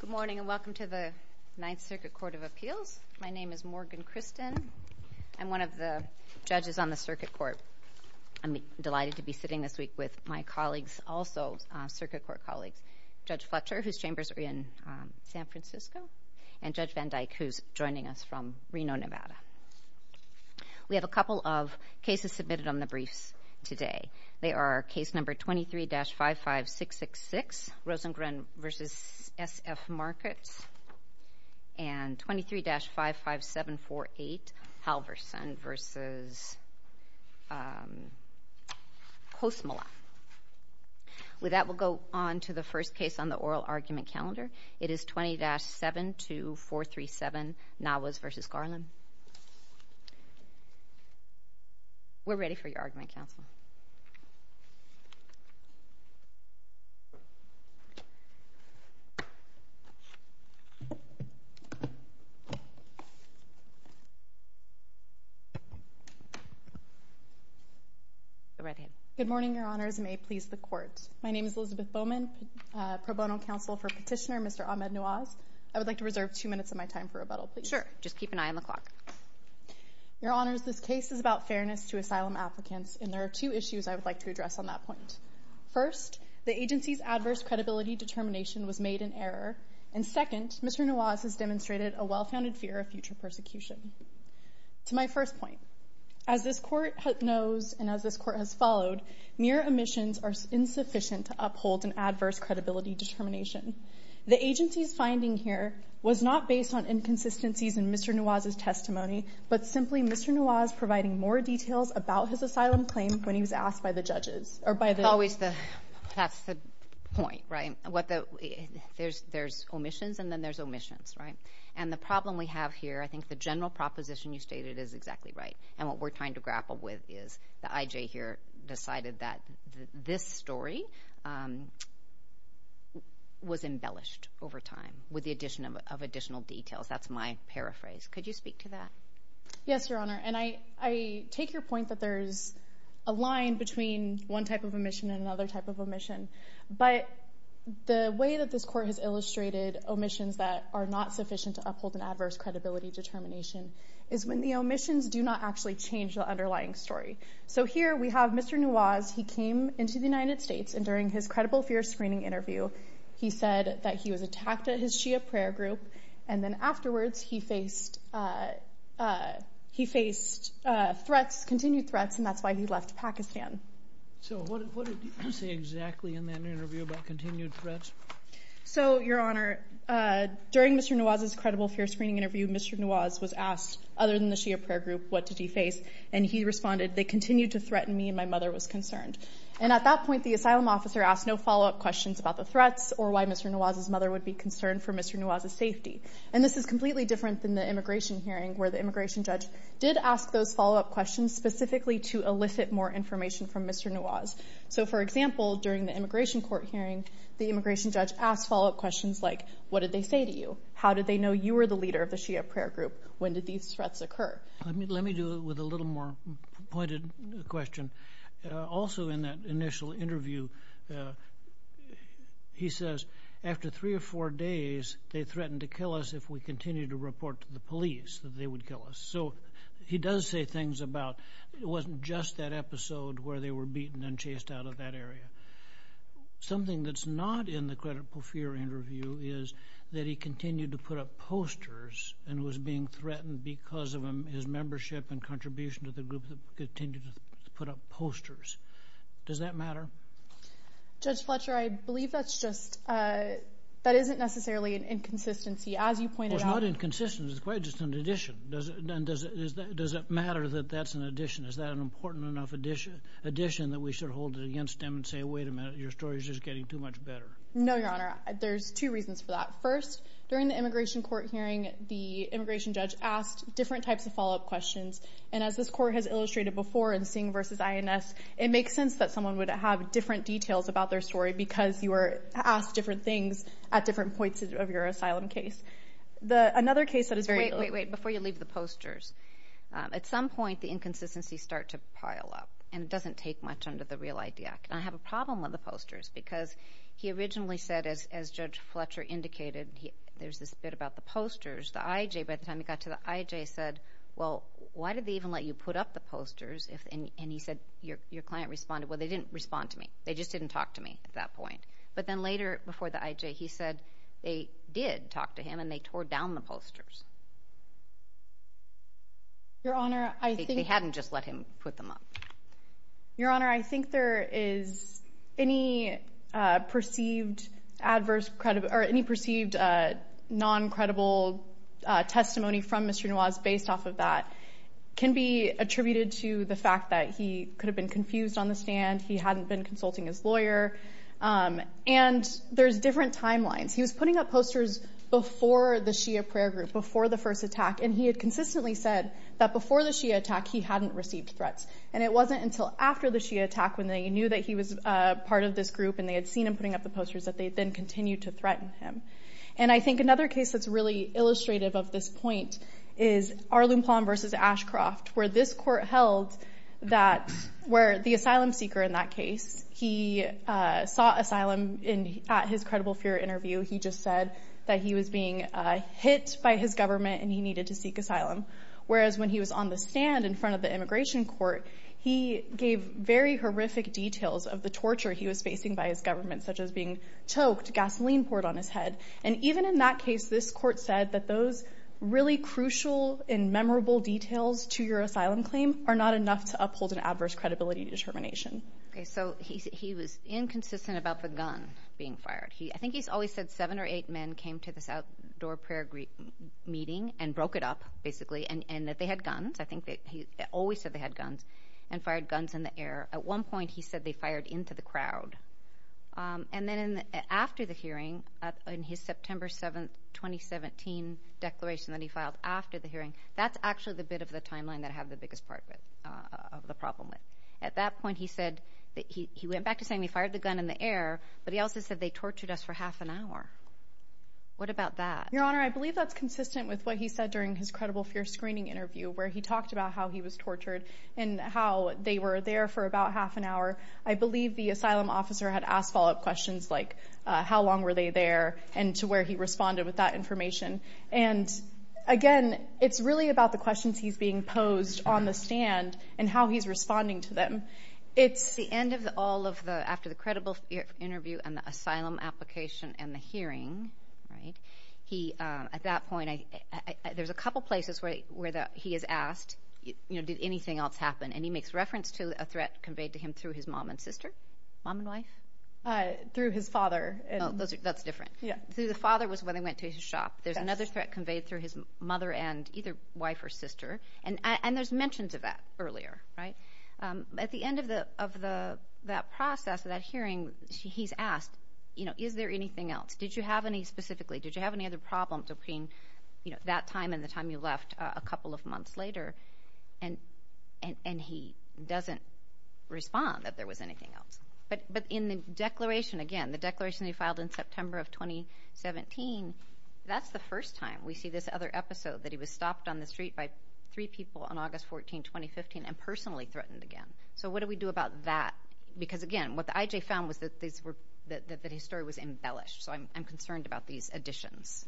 Good morning and welcome to the Ninth Circuit Court of Appeals. My name is Morgan Christen. I'm one of the judges on the circuit court. I'm delighted to be sitting this week with my colleagues, also circuit court colleagues, Judge Fletcher, whose chambers are in San Francisco, and Judge Van Dyke, who's joining us from Reno, Nevada. We have a couple of cases submitted on the briefs today. They are case number 23-55666, Rosengren v. S.F. Markets, and 23-55748, Halverson v. Kosmola. With that, we'll go on to the first case on the oral argument calendar. It is 20-72437, Nawaz v. Garland. We're ready for your argument, counsel. Go right ahead. Good morning, Your Honors, and may it please the Court. My name is Elizabeth Bowman, pro bono counsel for Petitioner Mr. Ahmed Nawaz. I would like to reserve two minutes of my time for rebuttal, please. Sure, just keep an eye on the clock. Your Honors, this case is about fairness to asylum applicants, and there are two issues I would like to address on that point. First, the agency's adverse credibility determination was made in error, and second, Mr. Nawaz has demonstrated a well-founded fear of future persecution. To my first point, as this Court knows and as this Court has followed, mere omissions are insufficient to uphold an adverse credibility determination. The agency's finding here was not based on inconsistencies in Mr. Nawaz's testimony, but simply Mr. Nawaz providing more details about his asylum claim when he was asked by the judges. That's the point, right? There's omissions and then there's omissions, right? And the problem we have here, I think the general proposition you stated is exactly right, and what we're trying to grapple with is the IJ here decided that this story was embellished over time with the addition of additional details. That's my paraphrase. Could you speak to that? Yes, Your Honor, and I take your point that there's a line between one type of omission and another type of omission, but the way that this Court has illustrated omissions that are not sufficient to uphold an adverse credibility determination is when the omissions do not actually change the underlying story. So here we have Mr. Nawaz. He came into the United States, and during his credible fear screening interview, he said that he was attacked at his Shia prayer group, and then afterwards he faced threats, continued threats, and that's why he left Pakistan. So what did you say exactly in that interview about continued threats? So, Your Honor, during Mr. Nawaz's credible fear screening interview, Mr. Nawaz was asked, other than the Shia prayer group, what did he face, and he responded, they continued to threaten me and my mother was concerned. And at that point, the asylum officer asked no follow-up questions about the threats or why Mr. Nawaz's mother would be concerned for Mr. Nawaz's safety. And this is completely different than the immigration hearing where the immigration judge did ask those follow-up questions specifically to elicit more information from Mr. Nawaz. So, for example, during the immigration court hearing, the immigration judge asked follow-up questions like, what did they say to you? How did they know you were the leader of the Shia prayer group? When did these threats occur? Let me do it with a little more pointed question. Also in that initial interview, he says, after three or four days, they threatened to kill us if we continued to report to the police that they would kill us. So he does say things about it wasn't just that episode where they were beaten and chased out of that area. Something that's not in the credible fear interview is that he continued to put up posters and was being threatened because of his membership and contribution to the group that continued to put up posters. Does that matter? Judge Fletcher, I believe that's just—that isn't necessarily an inconsistency. As you pointed out— Well, it's not inconsistent. It's quite just an addition. Does it matter that that's an addition? Is that an important enough addition that we should hold it against him and say, wait a minute, your story's just getting too much better? No, Your Honor. There's two reasons for that. First, during the immigration court hearing, the immigration judge asked different types of follow-up questions, and as this court has illustrated before in Singh v. INS, it makes sense that someone would have different details about their story because you were asked different things at different points of your asylum case. Another case that is very— Wait, wait, wait. Before you leave the posters. At some point, the inconsistencies start to pile up, and it doesn't take much under the real ID act. And I have a problem with the posters because he originally said, as Judge Fletcher indicated, there's this bit about the posters. The IJ, by the time he got to the IJ, said, well, why did they even let you put up the posters? And he said, your client responded, well, they didn't respond to me. They just didn't talk to me at that point. But then later, before the IJ, he said they did talk to him, and they tore down the posters. Your Honor, I think— They hadn't just let him put them up. Your Honor, I think there is any perceived adverse— or any perceived non-credible testimony from Mr. Nuwaz based off of that can be attributed to the fact that he could have been confused on the stand. He hadn't been consulting his lawyer. And there's different timelines. He was putting up posters before the Shia prayer group, before the first attack, and he had consistently said that before the Shia attack, he hadn't received threats. And it wasn't until after the Shia attack, when they knew that he was part of this group and they had seen him putting up the posters, that they then continued to threaten him. And I think another case that's really illustrative of this point is Arlen Plon v. Ashcroft, where this court held that—where the asylum seeker in that case, he sought asylum at his credible fear interview. He just said that he was being hit by his government and he needed to seek asylum. Whereas when he was on the stand in front of the immigration court, he gave very horrific details of the torture he was facing by his government, such as being choked, gasoline poured on his head. And even in that case, this court said that those really crucial and memorable details to your asylum claim are not enough to uphold an adverse credibility determination. Okay, so he was inconsistent about the gun being fired. I think he's always said seven or eight men came to this outdoor prayer meeting and broke it up, basically, and that they had guns. I think that he always said they had guns and fired guns in the air. At one point, he said they fired into the crowd. And then after the hearing, in his September 7, 2017 declaration that he filed after the hearing, that's actually the bit of the timeline that I have the biggest part of the problem with. At that point, he said that he went back to saying he fired the gun in the air, but he also said they tortured us for half an hour. What about that? Your Honor, I believe that's consistent with what he said during his credible fear screening interview, where he talked about how he was tortured and how they were there for about half an hour. I believe the asylum officer had asked follow-up questions like how long were they there and to where he responded with that information. And, again, it's really about the questions he's being posed on the stand and how he's responding to them. At the end of all of the, after the credible interview and the asylum application and the hearing, at that point, there's a couple places where he is asked did anything else happen, and he makes reference to a threat conveyed to him through his mom and sister. Mom and wife? Through his father. That's different. Through the father was when they went to his shop. There's another threat conveyed through his mother and either wife or sister. And there's mentions of that earlier. Right? At the end of that process, that hearing, he's asked, you know, is there anything else? Did you have any specifically? Did you have any other problems between that time and the time you left a couple of months later? And he doesn't respond that there was anything else. But in the declaration, again, the declaration that he filed in September of 2017, that's the first time we see this other episode, that he was stopped on the street by three people on August 14, 2015, and personally threatened again. So what do we do about that? Because, again, what the IJ found was that his story was embellished. So I'm concerned about these additions.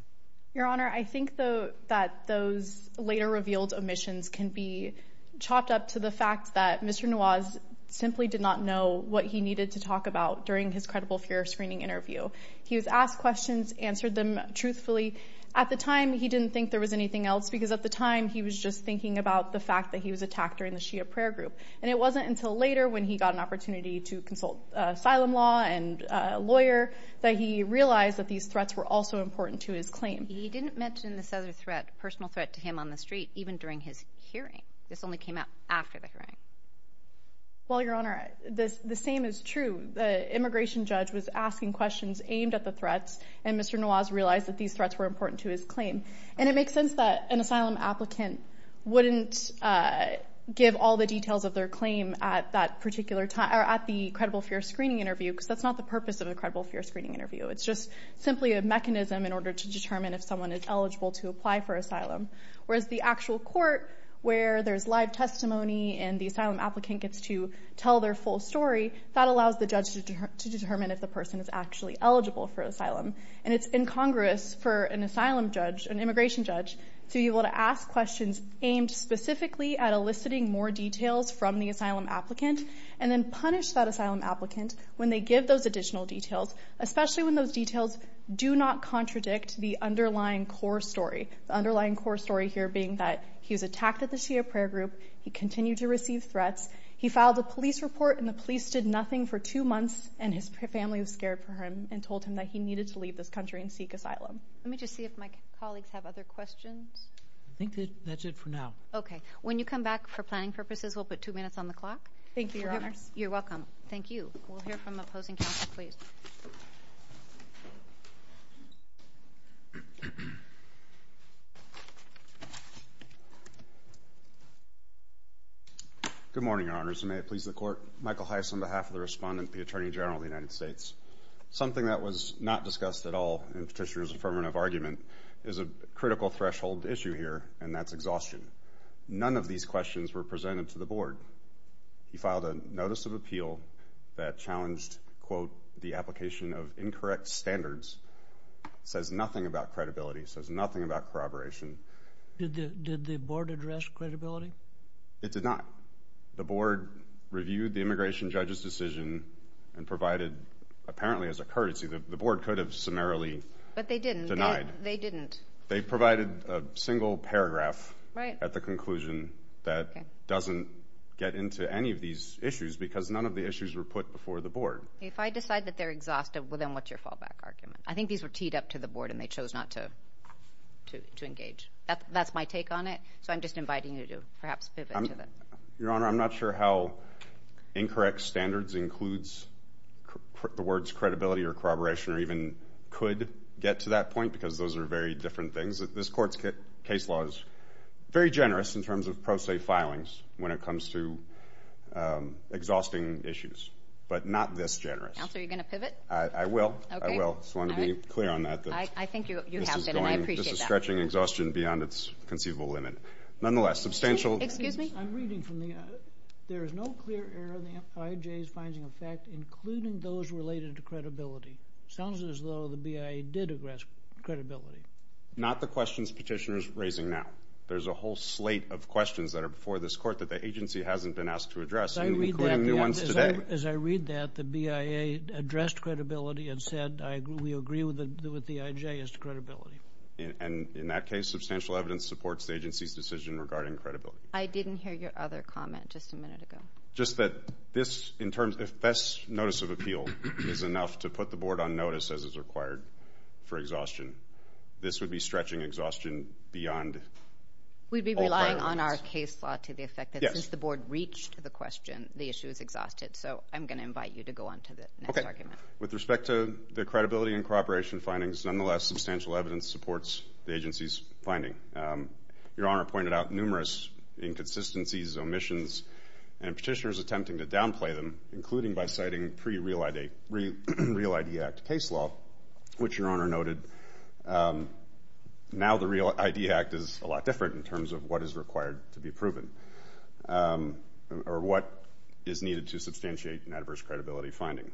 Your Honor, I think that those later revealed omissions can be chopped up to the fact that Mr. Nawaz simply did not know what he needed to talk about during his credible fear screening interview. He was asked questions, answered them truthfully. At the time, he didn't think there was anything else because, at the time, he was just thinking about the fact that he was attacked during the Shia prayer group. And it wasn't until later when he got an opportunity to consult asylum law and a lawyer that he realized that these threats were also important to his claim. He didn't mention this other threat, personal threat, to him on the street even during his hearing. This only came out after the hearing. Well, Your Honor, the same is true. The immigration judge was asking questions aimed at the threats, and Mr. Nawaz realized that these threats were important to his claim. And it makes sense that an asylum applicant wouldn't give all the details of their claim at that particular time or at the credible fear screening interview because that's not the purpose of a credible fear screening interview. It's just simply a mechanism in order to determine if someone is eligible to apply for asylum. Whereas the actual court, where there's live testimony and the asylum applicant gets to tell their full story, that allows the judge to determine if the person is actually eligible for asylum. And it's incongruous for an asylum judge, an immigration judge, to be able to ask questions aimed specifically at eliciting more details from the asylum applicant and then punish that asylum applicant when they give those additional details, especially when those details do not contradict the underlying core story, the underlying core story here being that he was attacked at the Shia prayer group, he continued to receive threats, he filed a police report, and the police did nothing for two months, and his family was scared for him and told him that he needed to leave this country and seek asylum. Let me just see if my colleagues have other questions. I think that's it for now. Okay. When you come back for planning purposes, we'll put two minutes on the clock. Thank you, Your Honors. You're welcome. Thank you. We'll hear from opposing counsel, please. Thank you. Good morning, Your Honors, and may it please the Court. Michael Heiss on behalf of the Respondent to the Attorney General of the United States. Something that was not discussed at all in Petitioner's affirmative argument is a critical threshold issue here, and that's exhaustion. None of these questions were presented to the Board. He filed a notice of appeal that challenged, quote, the application of incorrect standards. It says nothing about credibility. It says nothing about corroboration. Did the Board address credibility? It did not. The Board reviewed the immigration judge's decision and provided apparently as a courtesy. The Board could have summarily denied. But they didn't. They provided a single paragraph at the conclusion that doesn't get into any of these issues because none of the issues were put before the Board. If I decide that they're exhausted, well, then what's your fallback argument? I think these were teed up to the Board and they chose not to engage. That's my take on it, so I'm just inviting you to perhaps pivot to that. Your Honor, I'm not sure how incorrect standards includes the words credibility or corroboration or even could get to that point because those are very different things. This Court's case law is very generous in terms of pro se filings when it comes to exhausting issues, but not this generous. Counsel, are you going to pivot? I will. Okay. I will. I just want to be clear on that. I think you have been, and I appreciate that. This is going, this is stretching exhaustion beyond its conceivable limit. Nonetheless, substantial. Excuse me? I'm reading from the, there is no clear error in the IJ's finding of fact including those related to credibility. Sounds as though the BIA did address credibility. Not the questions petitioners are raising now. There's a whole slate of questions that are before this Court that the agency hasn't been asked to address, including new ones today. As I read that, the BIA addressed credibility and said, we agree with the IJ as to credibility. And in that case, substantial evidence supports the agency's decision regarding credibility. I didn't hear your other comment just a minute ago. Just that this in terms, if this notice of appeal is enough to put the Board on notice as is required for exhaustion, this would be stretching exhaustion beyond. We'd be relying on our case law to the effect that since the Board reached the question, the issue is exhausted. So I'm going to invite you to go on to the next argument. Okay. With respect to the credibility and cooperation findings, nonetheless substantial evidence supports the agency's finding. Your Honor pointed out numerous inconsistencies, omissions, and petitioners attempting to downplay them, including by citing pre-Real ID Act case law, which Your Honor noted. Now the Real ID Act is a lot different in terms of what is required to be proven or what is needed to substantiate an adverse credibility finding.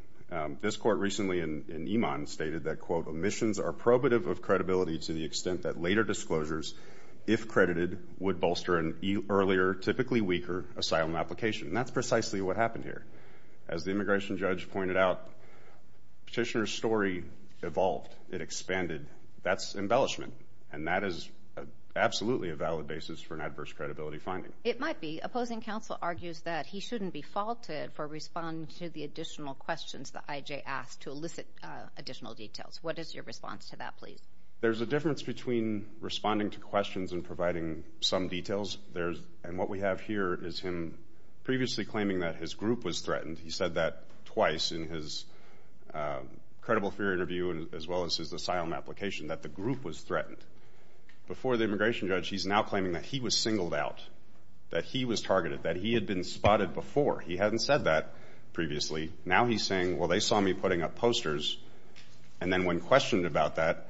This Court recently in Iman stated that, quote, omissions are probative of credibility to the extent that later disclosures, if credited, would bolster an earlier, typically weaker, asylum application. That's precisely what happened here. As the immigration judge pointed out, petitioner's story evolved. It expanded. That's embellishment, and that is absolutely a valid basis for an adverse credibility finding. It might be. Opposing counsel argues that he shouldn't be faulted for responding to the additional questions that I.J. asked to elicit additional details. What is your response to that, please? There's a difference between responding to questions and providing some details, and what we have here is him previously claiming that his group was threatened. He said that twice in his credible fear interview as well as his asylum application, that the group was threatened. Before the immigration judge, he's now claiming that he was singled out, that he was targeted, that he had been spotted before. He hadn't said that previously. Now he's saying, well, they saw me putting up posters, and then when questioned about that,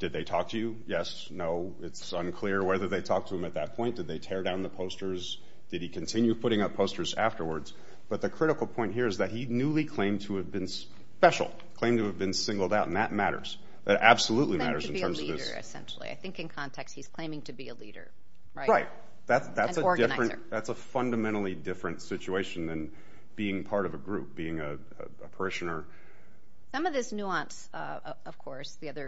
did they talk to you? Yes, no, it's unclear whether they talked to him at that point. Did they tear down the posters? Did he continue putting up posters afterwards? But the critical point here is that he newly claimed to have been special, claimed to have been singled out, and that matters. That absolutely matters in terms of this. Claimed to be a leader, essentially. I think in context he's claiming to be a leader, right? Right. An organizer. That's a fundamentally different situation than being part of a group, being a parishioner. Some of this nuance, of course, it's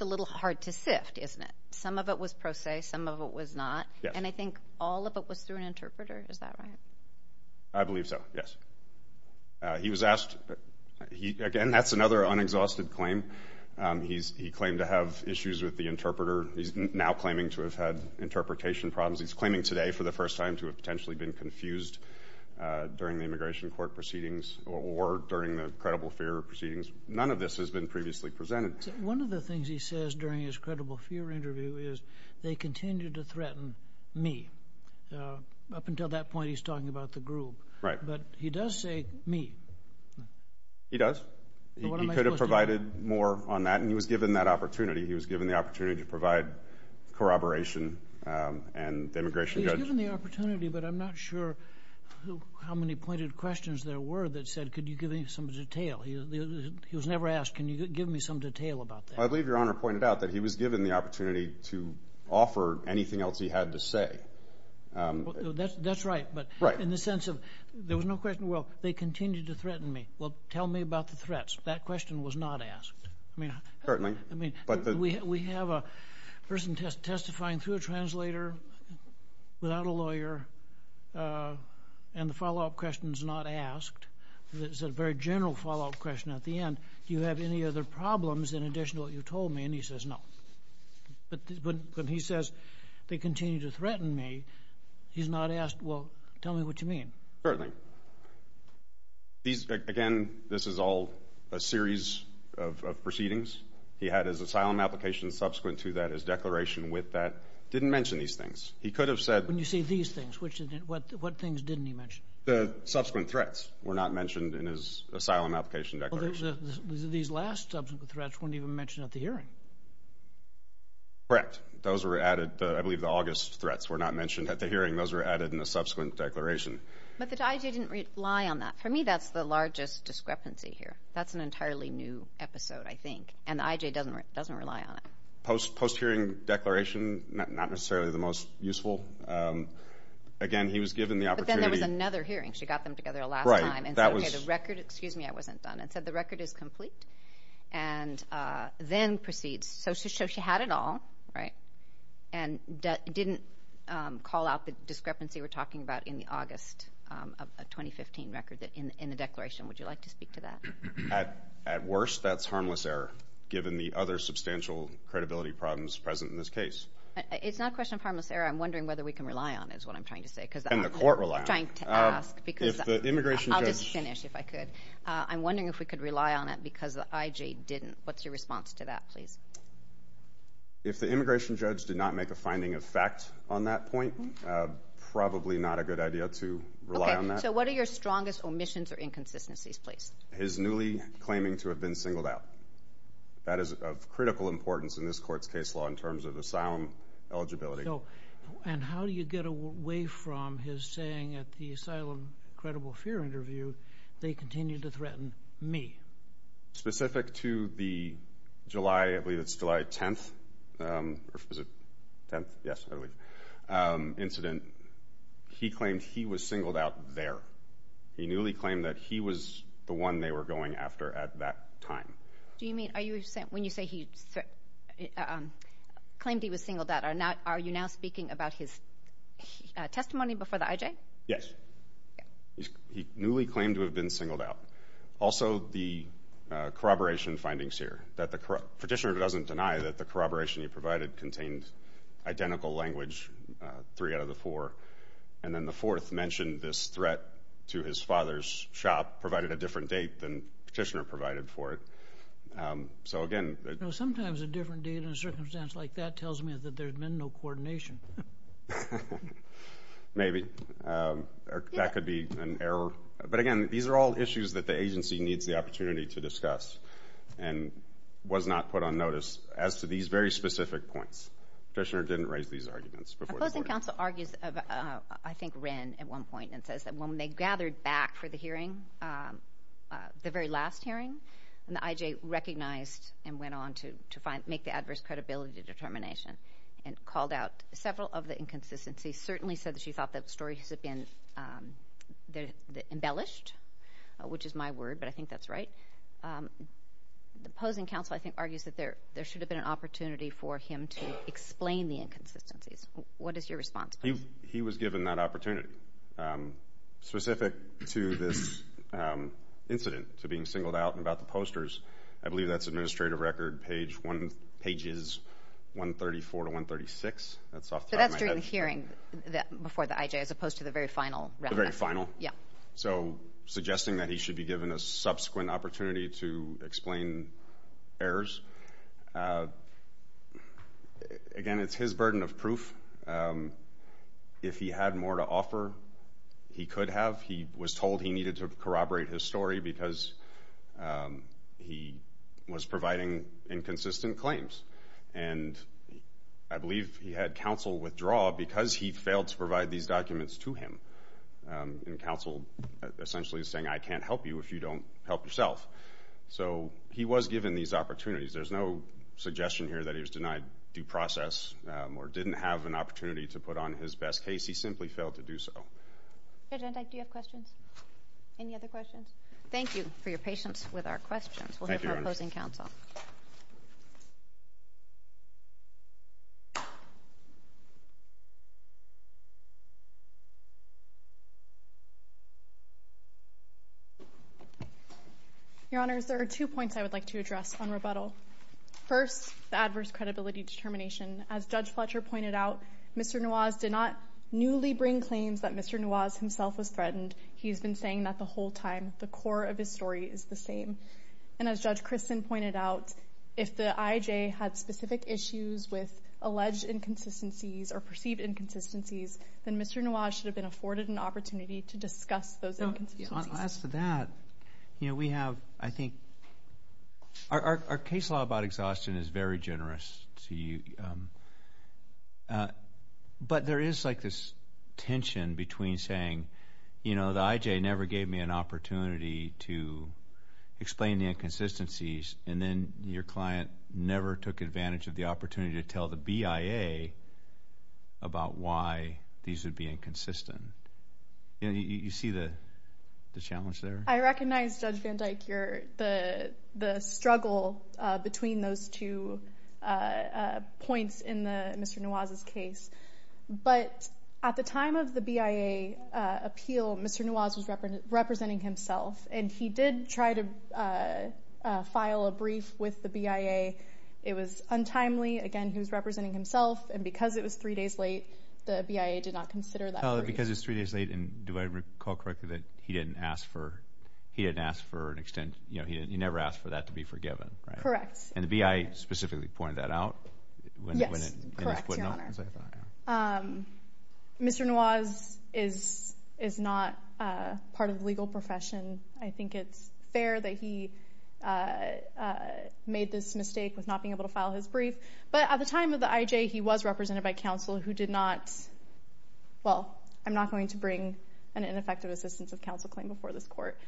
a little hard to sift, isn't it? Some of it was pro se, some of it was not. And I think all of it was through an interpreter. Is that right? I believe so, yes. He was asked, again, that's another unexhausted claim. He claimed to have issues with the interpreter. He's now claiming to have had interpretation problems. He's claiming today for the first time to have potentially been confused during the immigration court proceedings or during the credible fear proceedings. None of this has been previously presented. One of the things he says during his credible fear interview is they continue to threaten me. Up until that point he's talking about the group. Right. But he does say me. He does. He could have provided more on that, and he was given that opportunity. He was given the opportunity to provide corroboration and the immigration judge. He was given the opportunity, but I'm not sure how many pointed questions there were that said, could you give me some detail? He was never asked, can you give me some detail about that? I believe Your Honor pointed out that he was given the opportunity to offer anything else he had to say. That's right, but in the sense of there was no question, well, they continue to threaten me. Well, tell me about the threats. That question was not asked. Certainly. We have a person testifying through a translator without a lawyer, and the follow-up question is not asked. It's a very general follow-up question at the end. Do you have any other problems in addition to what you told me? And he says no. But when he says they continue to threaten me, he's not asked, well, tell me what you mean. Certainly. Again, this is all a series of proceedings. He had his asylum application subsequent to that, his declaration with that. He didn't mention these things. He could have said. When you say these things, what things didn't he mention? The subsequent threats were not mentioned in his asylum application declaration. These last subsequent threats weren't even mentioned at the hearing. Correct. Those were added. I believe the August threats were not mentioned at the hearing. Those were added in the subsequent declaration. But the IJ didn't rely on that. For me, that's the largest discrepancy here. That's an entirely new episode, I think, and the IJ doesn't rely on it. Post-hearing declaration, not necessarily the most useful. Again, he was given the opportunity. But then there was another hearing. She got them together last time and said, okay, the record is complete, and then proceeds. So she had it all, right, and didn't call out the discrepancy we're talking about in the August of 2015 record in the declaration. Would you like to speak to that? At worst, that's harmless error, given the other substantial credibility problems present in this case. It's not a question of harmless error. I'm wondering whether we can rely on it is what I'm trying to say. And the court rely on it. I'm trying to ask because I'll just finish if I could. I'm wondering if we could rely on it because the IJ didn't. What's your response to that, please? If the immigration judge did not make a finding of fact on that point, probably not a good idea to rely on that. Okay. So what are your strongest omissions or inconsistencies, please? His newly claiming to have been singled out. That is of critical importance in this court's case law in terms of asylum eligibility. And how do you get away from his saying at the asylum credible fear interview, they continue to threaten me? Specific to the July 10th incident, he claimed he was singled out there. He newly claimed that he was the one they were going after at that time. Do you mean when you say he claimed he was singled out, are you now speaking about his testimony before the IJ? Yes. He newly claimed to have been singled out. Also, the corroboration findings here. Petitioner doesn't deny that the corroboration he provided contained identical language, three out of the four. And then the fourth mentioned this threat to his father's shop, provided a different date than Petitioner provided for it. So, again. Sometimes a different date in a circumstance like that tells me that there's been no coordination. Maybe. That could be an error. But, again, these are all issues that the agency needs the opportunity to discuss and was not put on notice as to these very specific points. Petitioner didn't raise these arguments before the court. Opposing counsel argues of, I think, Wren at one point, and says that when they gathered back for the hearing, the very last hearing, and the IJ recognized and went on to make the adverse credibility determination and called out several of the inconsistencies, certainly said that she thought the stories had been embellished, which is my word, but I think that's right. The opposing counsel, I think, argues that there should have been an opportunity for him to explain the inconsistencies. What is your response? He was given that opportunity. Specific to this incident, to being singled out and about the posters, I believe that's administrative record pages 134 to 136. That's off the top of my head. But that's during the hearing before the IJ as opposed to the very final round. The very final. Yeah. So suggesting that he should be given a subsequent opportunity to explain errors. Again, it's his burden of proof. If he had more to offer, he could have. He was told he needed to corroborate his story because he was providing inconsistent claims. And I believe he had counsel withdraw because he failed to provide these documents to him. And counsel essentially is saying, I can't help you if you don't help yourself. So he was given these opportunities. There's no suggestion here that he was denied due process or didn't have an opportunity to put on his best case. He simply failed to do so. Judge Endik, do you have questions? Any other questions? Thank you for your patience with our questions. We'll hear from opposing counsel. Thank you, Your Honor. Your Honors, there are two points I would like to address on rebuttal. First, the adverse credibility determination. As Judge Fletcher pointed out, Mr. Nawaz did not newly bring claims that Mr. Nawaz himself was threatened. He's been saying that the whole time. The core of his story is the same. And as Judge Christen pointed out, if the IJ had specific issues with alleged inconsistencies or perceived inconsistencies, then Mr. Nawaz should have been afforded an opportunity to discuss those inconsistencies. As to that, you know, we have, I think, our case law about exhaustion is very generous to you. But there is like this tension between saying, you know, the IJ never gave me an opportunity to explain the inconsistencies, and then your client never took advantage of the opportunity to tell the BIA about why these would be inconsistent. You see the challenge there? I recognize, Judge Van Dyke, the struggle between those two points in Mr. Nawaz's case. But at the time of the BIA appeal, Mr. Nawaz was representing himself, and he did try to file a brief with the BIA. It was untimely. Again, he was representing himself, and because it was three days late, the BIA did not consider that brief. Well, because it was three days late, and do I recall correctly that he didn't ask for an extension? You know, he never asked for that to be forgiven, right? Correct. And the BIA specifically pointed that out? Yes, correct, Your Honor. Mr. Nawaz is not part of the legal profession. I think it's fair that he made this mistake with not being able to file his brief. But at the time of the IJ, he was represented by counsel who did not, well, I'm not going to bring an ineffective assistance of counsel claim before this court,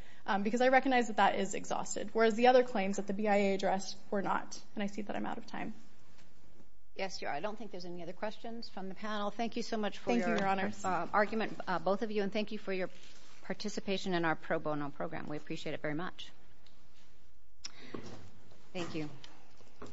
because I recognize that that is exhausted, whereas the other claims that the BIA addressed were not, and I see that I'm out of time. Yes, you are. I don't think there's any other questions from the panel. Thank you so much for your argument, both of you, and thank you for your participation in our pro bono program. We appreciate it very much. Thank you.